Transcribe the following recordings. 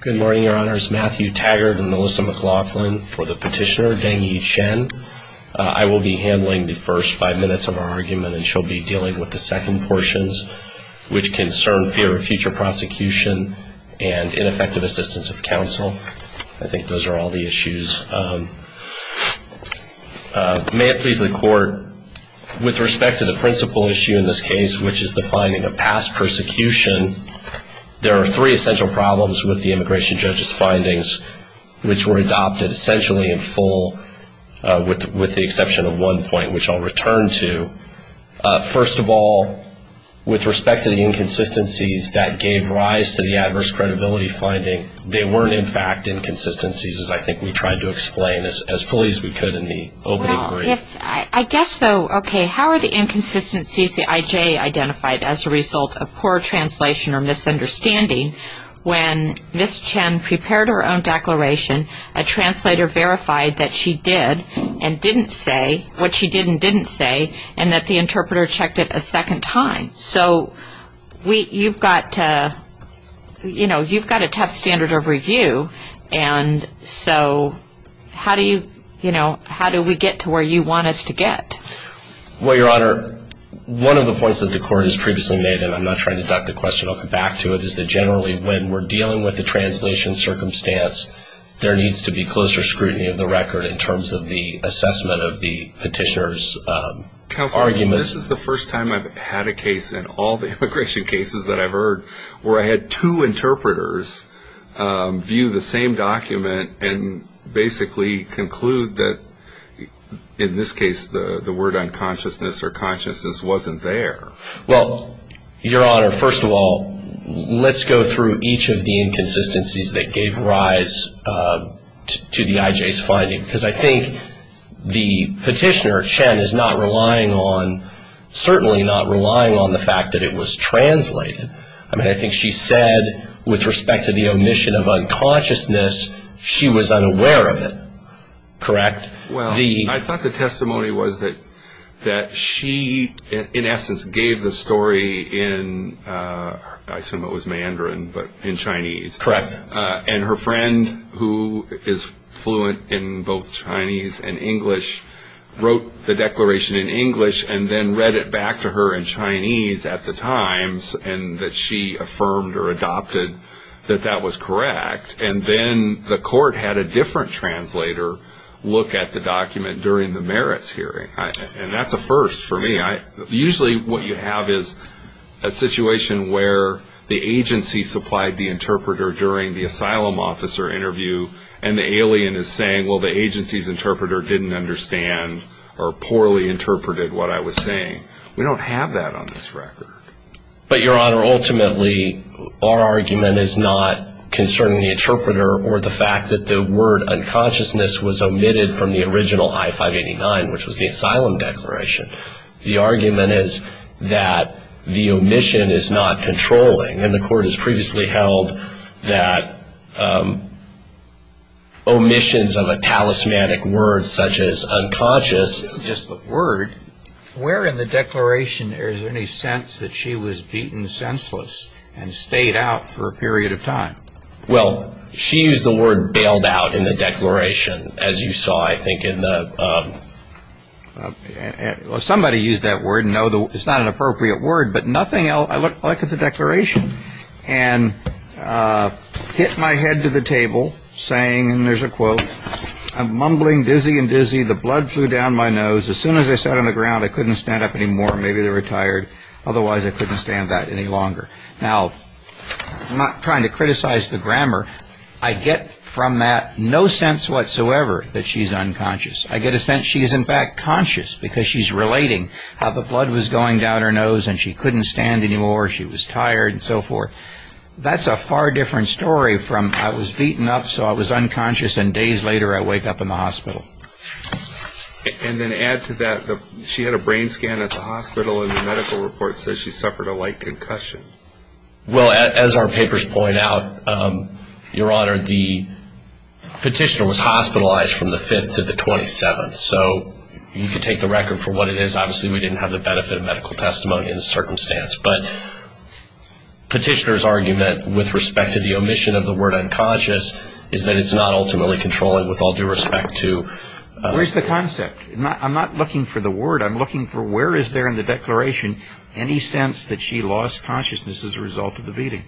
Good morning, Your Honors. Matthew Taggart and Melissa McLaughlin for the petitioner, Dengyi Chen. I will be handling the first five minutes of our argument, and she'll be dealing with the second portions, which concern fear of future prosecution and ineffective assistance of counsel. I think those are all the issues. May it please the Court, with respect to the principal issue in this case, which the immigration judge's findings, which were adopted essentially in full, with the exception of one point, which I'll return to, first of all, with respect to the inconsistencies that gave rise to the adverse credibility finding, they weren't, in fact, inconsistencies, as I think we tried to explain as fully as we could in the opening brief. Well, I guess, though, okay, how are the inconsistencies the IJ identified as a misunderstanding when Ms. Chen prepared her own declaration, a translator verified that she did and didn't say what she did and didn't say, and that the interpreter checked it a second time? So you've got a tough standard of review, and so how do we get to where you want us to get? Well, Your Honor, one of the points that the Court has previously made, and I'm not going to deduct the question, I'll come back to it, is that generally when we're dealing with the translation circumstance, there needs to be closer scrutiny of the record in terms of the assessment of the petitioner's arguments. Counselor, this is the first time I've had a case in all the immigration cases that I've heard where I had two interpreters view the same document and basically conclude that, in this case, the word unconsciousness or consciousness wasn't there. Well, Your Honor, first of all, let's go through each of the inconsistencies that gave rise to the IJ's finding, because I think the petitioner, Chen, is not relying on, certainly not relying on the fact that it was translated. I mean, I think she said, with respect to the omission of unconsciousness, she was unaware of it, correct? Well, I thought the testimony was that she, in essence, gave the story in, I assume it was Mandarin, but in Chinese. Correct. And her friend, who is fluent in both Chinese and English, wrote the declaration in English and then read it back to her in Chinese at the Times, and that she affirmed or adopted that that was correct. And then the court had a different translator look at the document during the merits hearing, and that's a first for me. Usually what you have is a situation where the agency supplied the interpreter during the asylum officer interview, and the alien is saying, well, the agency's interpreter didn't understand or poorly interpreted what I was saying. We don't have that on this record. But Your Honor, ultimately, our argument is not concerning the interpreter or the fact that the word unconsciousness was omitted from the original I-589, which was the asylum declaration. The argument is that the omission is not controlling, and the court has previously held that omissions of a talismanic word, such as unconscious... It wasn't just the word. Where in the declaration is there any sense that she was beaten senseless and stayed out for a period of time? Well, she used the word bailed out in the declaration, as you saw, I think, in the... Somebody used that word. No, it's not an appropriate word. But nothing else. I looked at the declaration and hit my head to the table, saying, and there's a quote, I'm mumbling dizzy and dizzy, the blood flew down my nose, as soon as I sat on the ground, I couldn't stand up anymore, maybe they were tired, otherwise I couldn't stand that any longer. Now, I'm not trying to criticize the grammar. I get from that no sense whatsoever that she's unconscious. I get a sense she is, in fact, conscious, because she's relating how the blood was going down her nose and she couldn't stand anymore, she was tired, and so forth. That's a far different story from, I was beaten up so I was unconscious and days later I wake up in the hospital. And then to add to that, she had a brain scan at the hospital and the medical report says she suffered a light concussion. Well, as our papers point out, your honor, the petitioner was hospitalized from the 5th to the 27th, so you can take the record for what it is, obviously we didn't have the benefit of medical testimony in the circumstance, but petitioner's argument with respect to the omission of the word unconscious is that it's not ultimately controlling with all due respect to... Where's the concept? I'm not looking for the word, I'm looking for where is there in the declaration any sense that she lost consciousness as a result of the beating.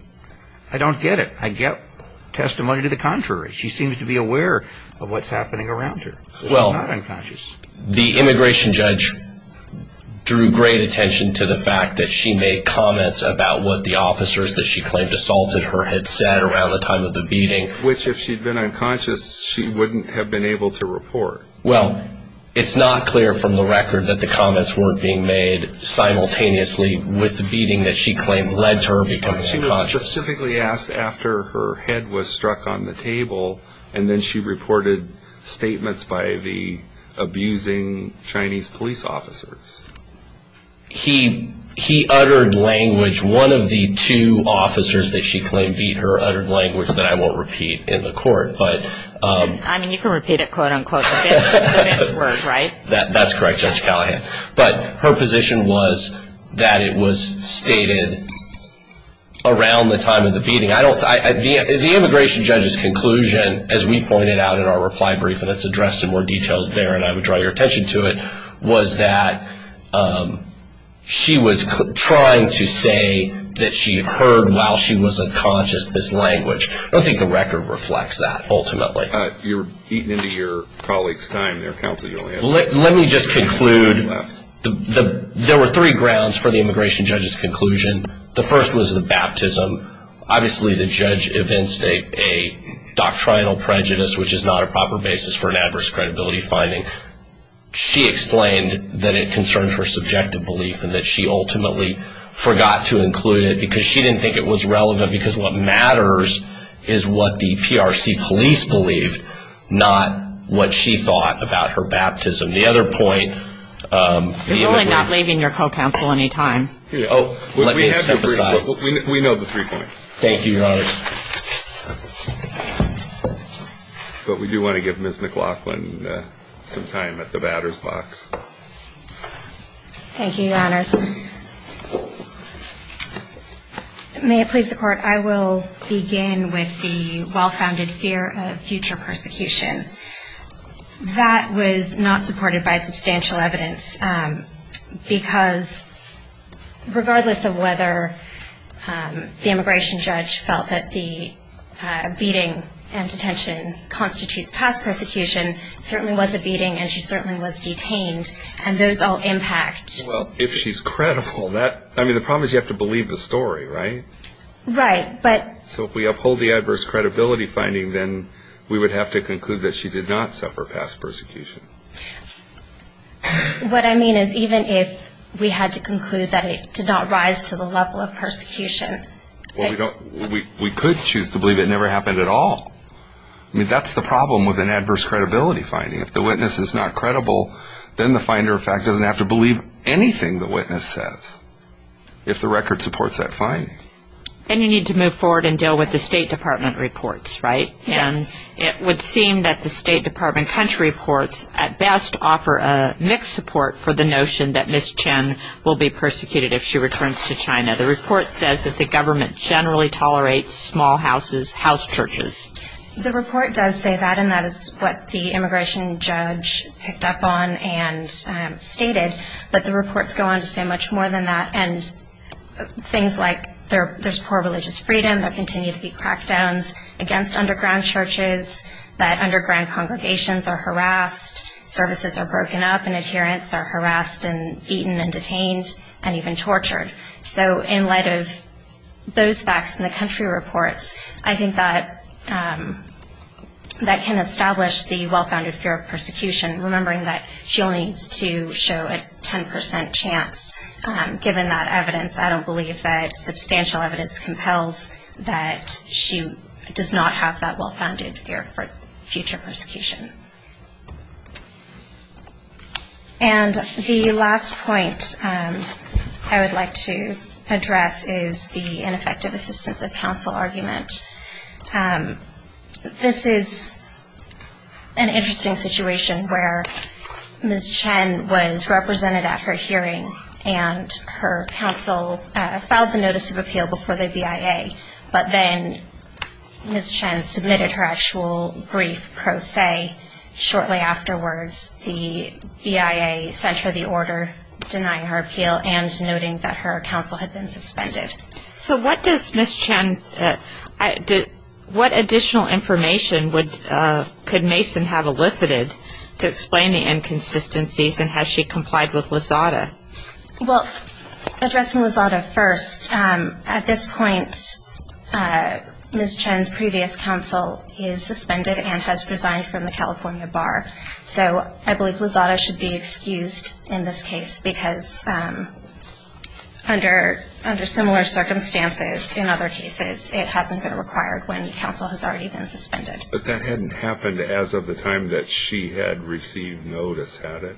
I don't get it. I get testimony to the contrary. She seems to be aware of what's happening around her. She's not unconscious. The immigration judge drew great attention to the fact that she made comments about what the officers that she claimed assaulted her had said around the time of the beating. Which if she'd been unconscious, she wouldn't have been able to report. Well, it's not clear from the record that the comments weren't being made simultaneously with the beating that she claimed led to her becoming unconscious. She was specifically asked after her head was struck on the table and then she reported statements by the abusing Chinese police officers. He uttered language, one of the two officers that she claimed beat her uttered language that I won't repeat in the court, but... I mean, you can repeat it quote unquote, but that's a different word, right? That's correct, Judge Callahan, but her position was that it was stated around the time of the beating. The immigration judge's conclusion, as we pointed out in our reply brief, and it's addressed in more detail there and I would draw your attention to it, was that she was trying to say that she heard while she was unconscious this language. I don't think the record reflects that, ultimately. You're eating into your colleague's time there, Counselor Joanne. Let me just conclude, there were three grounds for the immigration judge's conclusion. The first was the baptism. Obviously the judge evinced a doctrinal prejudice, which is not a proper basis for an adverse credibility finding. She explained that it concerned her subjective belief and that she ultimately forgot to include it because she didn't think it was relevant because what matters is what the PRC police believed, not what she thought about her baptism. The other point... You're really not leaving your co-counsel any time. Let me step aside. We know the three points. Thank you, Your Honor. But we do want to give Ms. McLaughlin some time at the batter's box. Thank you, Your Honors. May it please the Court, I will begin with the well-founded fear of future persecution. That was not supported by substantial evidence because regardless of whether the immigration judge felt that the beating and detention constitutes past persecution, it certainly was a beating and she certainly was detained, and those all impact... Well, if she's credible, that... I mean, the problem is you have to believe the story, right? Right, but... So if we uphold the adverse credibility finding, then we would have to conclude that she did not suffer past persecution. What I mean is even if we had to conclude that it did not rise to the level of persecution... Well, we could choose to believe it never happened at all. I mean, that's the problem with an adverse credibility finding. If the witness is not credible, then the finder of fact doesn't have to believe anything the witness says if the record supports that finding. And you need to move forward and deal with the State Department reports, right? Yes. And it would seem that the State Department country reports at best offer a mixed support for the notion that Ms. Chen will be persecuted if she returns to China. The report says that the government generally tolerates small houses, house churches. The report does say that, and that is what the immigration judge picked up on and stated, but the reports go on to say much more than that. And things like there's poor religious freedom, there continue to be crackdowns against underground churches, that underground congregations are harassed, services are broken up and adherents are harassed and beaten and detained and even tortured. So in light of those facts in the country reports, I think that can establish the well-founded fear of persecution, remembering that she only needs to show a 10% chance given that evidence. I don't believe that substantial evidence compels that she does not have that well-founded fear for future persecution. And the last point I would like to address is the ineffective assistance of counsel argument. This is an interesting situation where Ms. Chen was represented at her hearing and her counsel filed the notice of appeal before the BIA, but then Ms. Chen submitted her actual brief pro se shortly afterwards. The BIA sent her the order denying her appeal and noting that her counsel had been suspended. So what does Ms. Chen, what additional information could Mason have elicited to explain the inconsistencies and has she complied with Lizada? Well, addressing Lizada first, at this point Ms. Chen's previous counsel is suspended and has resigned from the California Bar. So I believe Lizada should be excused in this case because under similar circumstances in other cases, it hasn't been required when counsel has already been suspended. But that hadn't happened as of the time that she had received notice, had it?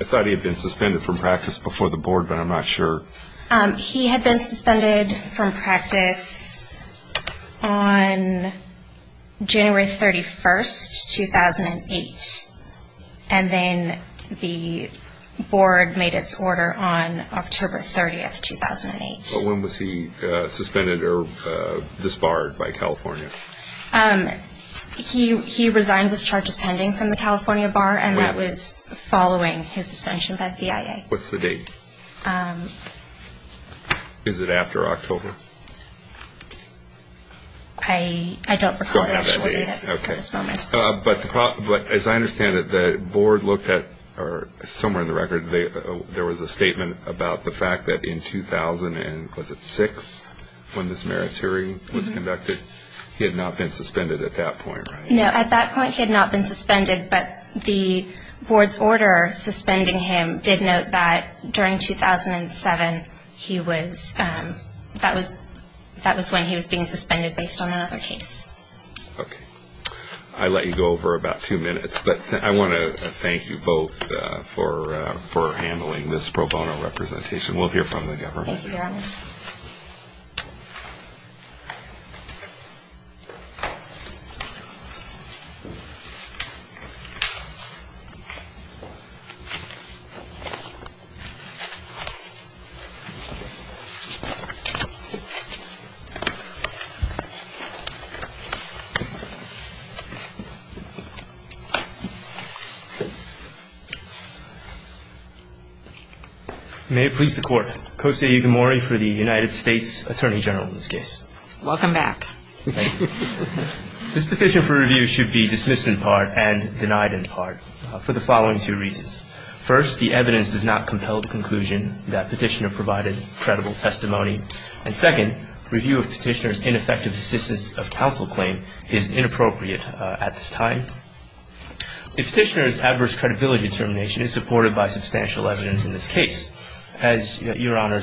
I thought he had been suspended from practice before the board, but I'm not sure. He had been suspended from practice on January 31st, 2008. And then the board made its order on October 30th, 2008. When was he suspended or disbarred by California? He resigned with charges pending from the California Bar and that was following his suspension by the BIA. What's the date? Is it after October? I don't have that date at this moment. But as I understand it, the board looked at, somewhere in the record, there was a statement about the fact that in 2006 when this merits hearing was conducted, he had not been suspended at that point, right? No, at that point he had not been suspended, but the board's order suspending him did note that during 2007, that was when he was being suspended based on another case. Okay. I let you go over about two minutes, but I want to thank you both for handling this pro bono representation. We'll hear from the government. Thank you, Your Honor. Thank you. May it please the Court, Kosei Igamori for the United States Attorney General in this case. Thank you. This petition for review should be dismissed in part and denied in part for the following two reasons. First, the evidence does not compel the conclusion that Petitioner provided credible testimony. And second, review of Petitioner's ineffective assistance of counsel claim is inappropriate at this time. Petitioner's adverse credibility determination is supported by substantial evidence in this case. As Your Honor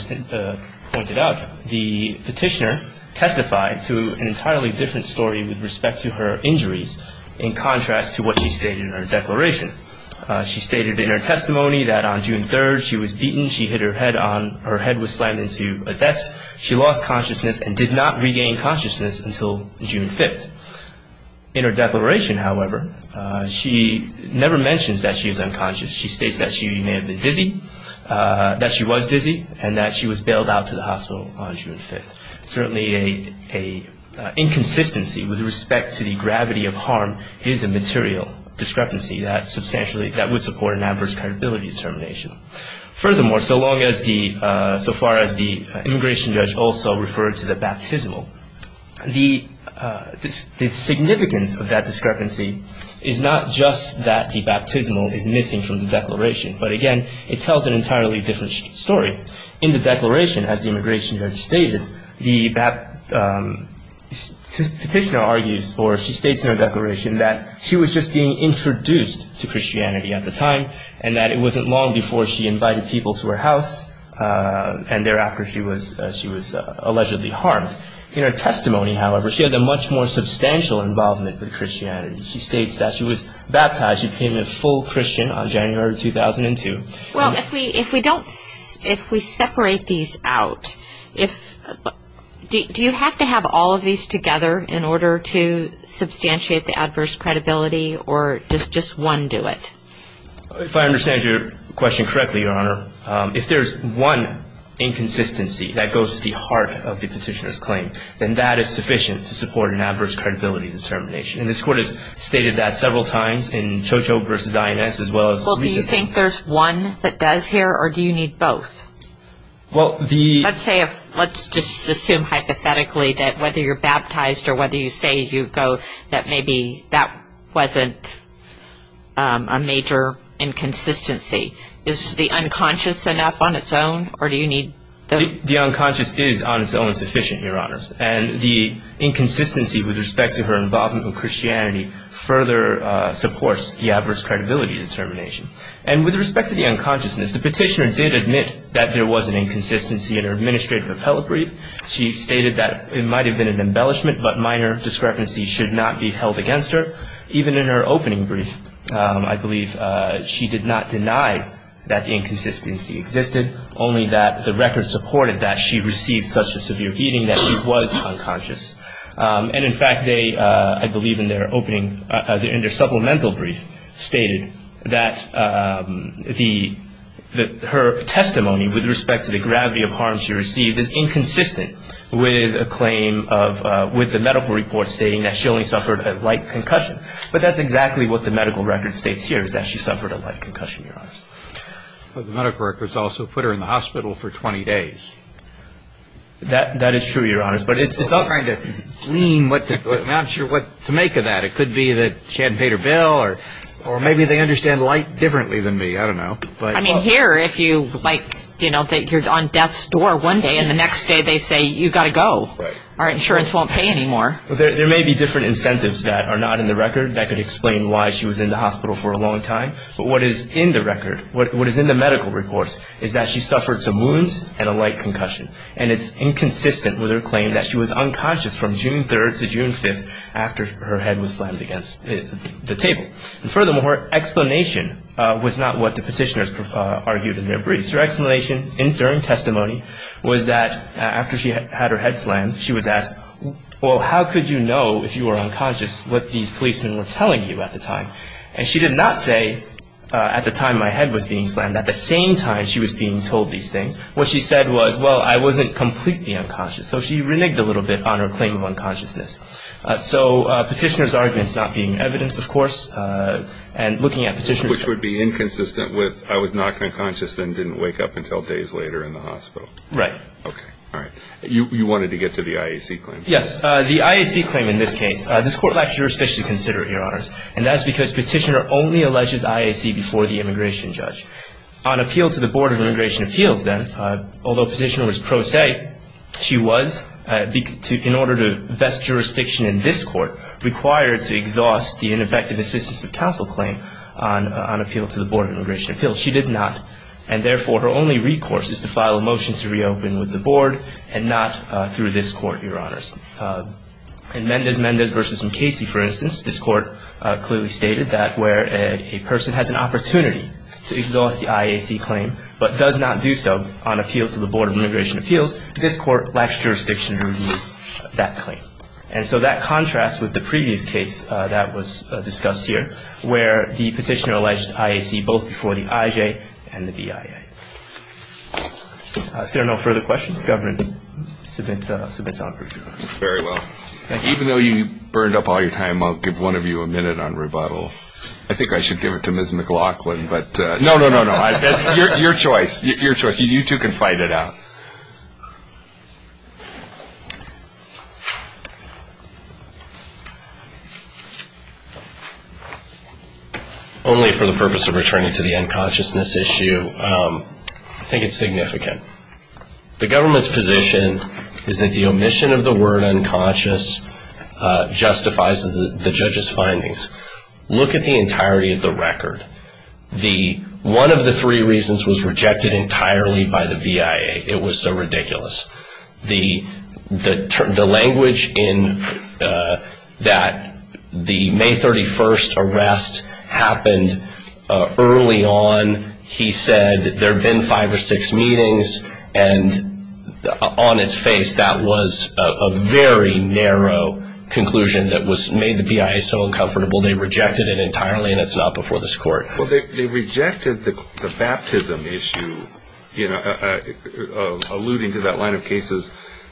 pointed out, the Petitioner testified to an entirely different story with respect to her injuries, in contrast to what she stated in her declaration. She stated in her testimony that on June 3rd, she was beaten. She hit her head on. Her head was slammed into a desk. She lost consciousness and did not regain consciousness until June 5th. In her declaration, however, she never mentions that she is unconscious. She states that she may have been dizzy, that she was dizzy, and that she was bailed out to the hospital on June 5th. Certainly, an inconsistency with respect to the gravity of harm is a material discrepancy that substantially would support an adverse credibility determination. Furthermore, so far as the immigration judge also referred to the baptismal, the significance of that discrepancy is not just that the baptismal is missing from the declaration, but again, it tells an entirely different story. In the declaration, as the immigration judge stated, the Petitioner argues, or she states in her declaration, that she was just being introduced to Christianity at the time, and that it wasn't long before she invited people to her house, and thereafter she was allegedly harmed. In her testimony, however, she has a much more substantial involvement with Christianity. She states that she was baptized. She became a full Christian on January 2002. Well, if we separate these out, do you have to have all of these together in order to substantiate the adverse credibility, or does just one do it? If I understand your question correctly, Your Honor, if there's one inconsistency that goes to the heart of the Petitioner's claim, then that is sufficient to support an adverse credibility determination. And this Court has stated that several times in Chocho v. INS as well as recently. Well, do you think there's one that does here, or do you need both? Well, the — Let's say, let's just assume hypothetically that whether you're baptized or whether you say you go, that maybe that wasn't a major inconsistency. Is the unconscious enough on its own, or do you need the — The unconscious is on its own sufficient, Your Honors. And the inconsistency with respect to her involvement with Christianity further supports the adverse credibility determination. And with respect to the unconsciousness, the Petitioner did admit that there was an inconsistency in her administrative appellate brief. She stated that it might have been an embellishment, but minor discrepancies should not be held against her, even in her opening brief. I believe she did not deny that the inconsistency existed, only that the record supported that she received such a severe beating that she was unconscious. And, in fact, they, I believe in their opening — in their supplemental brief, stated that the — that her testimony with respect to the gravity of harm she received is inconsistent with a claim of — with the medical report stating that she only suffered a light concussion. But that's exactly what the medical record states here, is that she suffered a light concussion, Your Honors. But the medical records also put her in the hospital for 20 days. That is true, Your Honors. But it's all trying to glean what the — I'm not sure what to make of that. It could be that she hadn't paid her bill, or maybe they understand light differently than me. I don't know. I mean, here, if you, like, you know, you're on death's door one day, and the next day they say, you've got to go, our insurance won't pay anymore. There may be different incentives that are not in the record that could explain why she was in the hospital for a long time. But what is in the record, what is in the medical reports, is that she suffered some wounds and a light concussion. And it's inconsistent with her claim that she was unconscious from June 3rd to June 5th after her head was slammed against the table. And, furthermore, her explanation was not what the petitioners argued in their briefs. Her explanation during testimony was that after she had her head slammed, she was asked, well, how could you know if you were unconscious what these policemen were telling you at the time? And she did not say, at the time my head was being slammed, at the same time she was being told these things. What she said was, well, I wasn't completely unconscious. So she reneged a little bit on her claim of unconsciousness. So petitioners' arguments not being evidence, of course, and looking at petitioners' — Right. Okay. All right. You wanted to get to the IAC claim. Yes. The IAC claim in this case. This Court lacks jurisdiction to consider it, Your Honors. And that's because Petitioner only alleges IAC before the immigration judge. On appeal to the Board of Immigration Appeals, then, although Petitioner was pro se, she was, in order to vest jurisdiction in this Court, required to exhaust the ineffective assistance of counsel claim on appeal to the Board of Immigration Appeals. She did not. And therefore, her only recourse is to file a motion to reopen with the Board and not through this Court, Your Honors. In Mendez-Mendez v. McCasey, for instance, this Court clearly stated that where a person has an opportunity to exhaust the IAC claim but does not do so on appeal to the Board of Immigration Appeals, this Court lacks jurisdiction to review that claim. And so that contrasts with the previous case that was discussed here, where the Petitioner alleged IAC both before the IJ and the BIA. If there are no further questions, the government submits on review. Very well. Thank you. Even though you burned up all your time, I'll give one of you a minute on rebuttals. I think I should give it to Ms. McLachlan. No, no, no, no. It's your choice. Your choice. You two can fight it out. Only for the purpose of returning to the unconsciousness issue, I think it's significant. The government's position is that the omission of the word unconscious justifies the judge's findings. Look at the entirety of the record. One of the three reasons was rejected entirely by the BIA. It was so ridiculous. The language in that the May 31st arrest happened early on, he said there had been five or six meetings, and on its face that was a very narrow conclusion that made the BIA so uncomfortable. They rejected it entirely, and it's not before this Court. Well, they rejected the baptism issue, alluding to that line of cases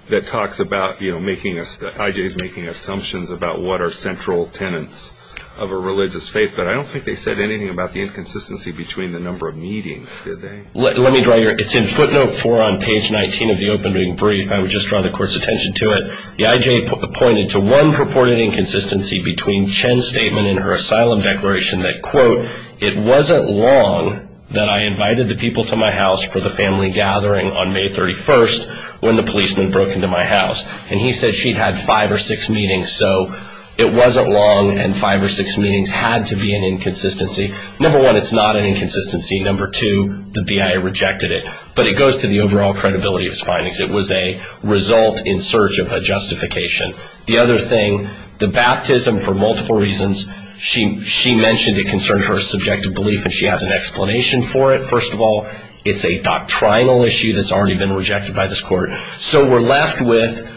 that talks about making us, the IJs making assumptions about what are central tenets of a religious faith, but I don't think they said anything about the inconsistency between the number of meetings, did they? Let me draw your, it's in footnote four on page 19 of the opening brief. I would just draw the Court's attention to it. The IJ pointed to one purported inconsistency between Chen's statement and her asylum declaration that, quote, it wasn't long that I invited the people to my house for the family gathering on May 31st when the policeman broke into my house. And he said she'd had five or six meetings, so it wasn't long, and five or six meetings had to be an inconsistency. Number one, it's not an inconsistency. Number two, the BIA rejected it. But it goes to the overall credibility of its findings. It was a result in search of a justification. The other thing, the baptism for multiple reasons. She mentioned it concerns her subjective belief, and she had an explanation for it. First of all, it's a doctrinal issue that's already been rejected by this Court. So we're left with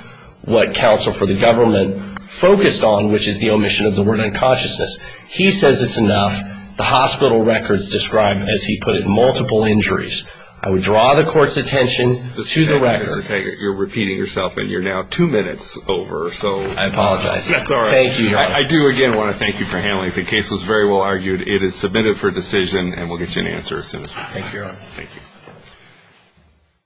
what counsel for the government focused on, which is the omission of the word unconsciousness. He says it's enough. The hospital records describe, as he put it, multiple injuries. I would draw the Court's attention to the record. Mr. Taggart, you're repeating yourself, and you're now two minutes over. I apologize. That's all right. Thank you, Your Honor. I do again want to thank you for handling it. The case was very well argued. It is submitted for decision, and we'll get you an answer as soon as we can. Thank you, Your Honor. Thank you.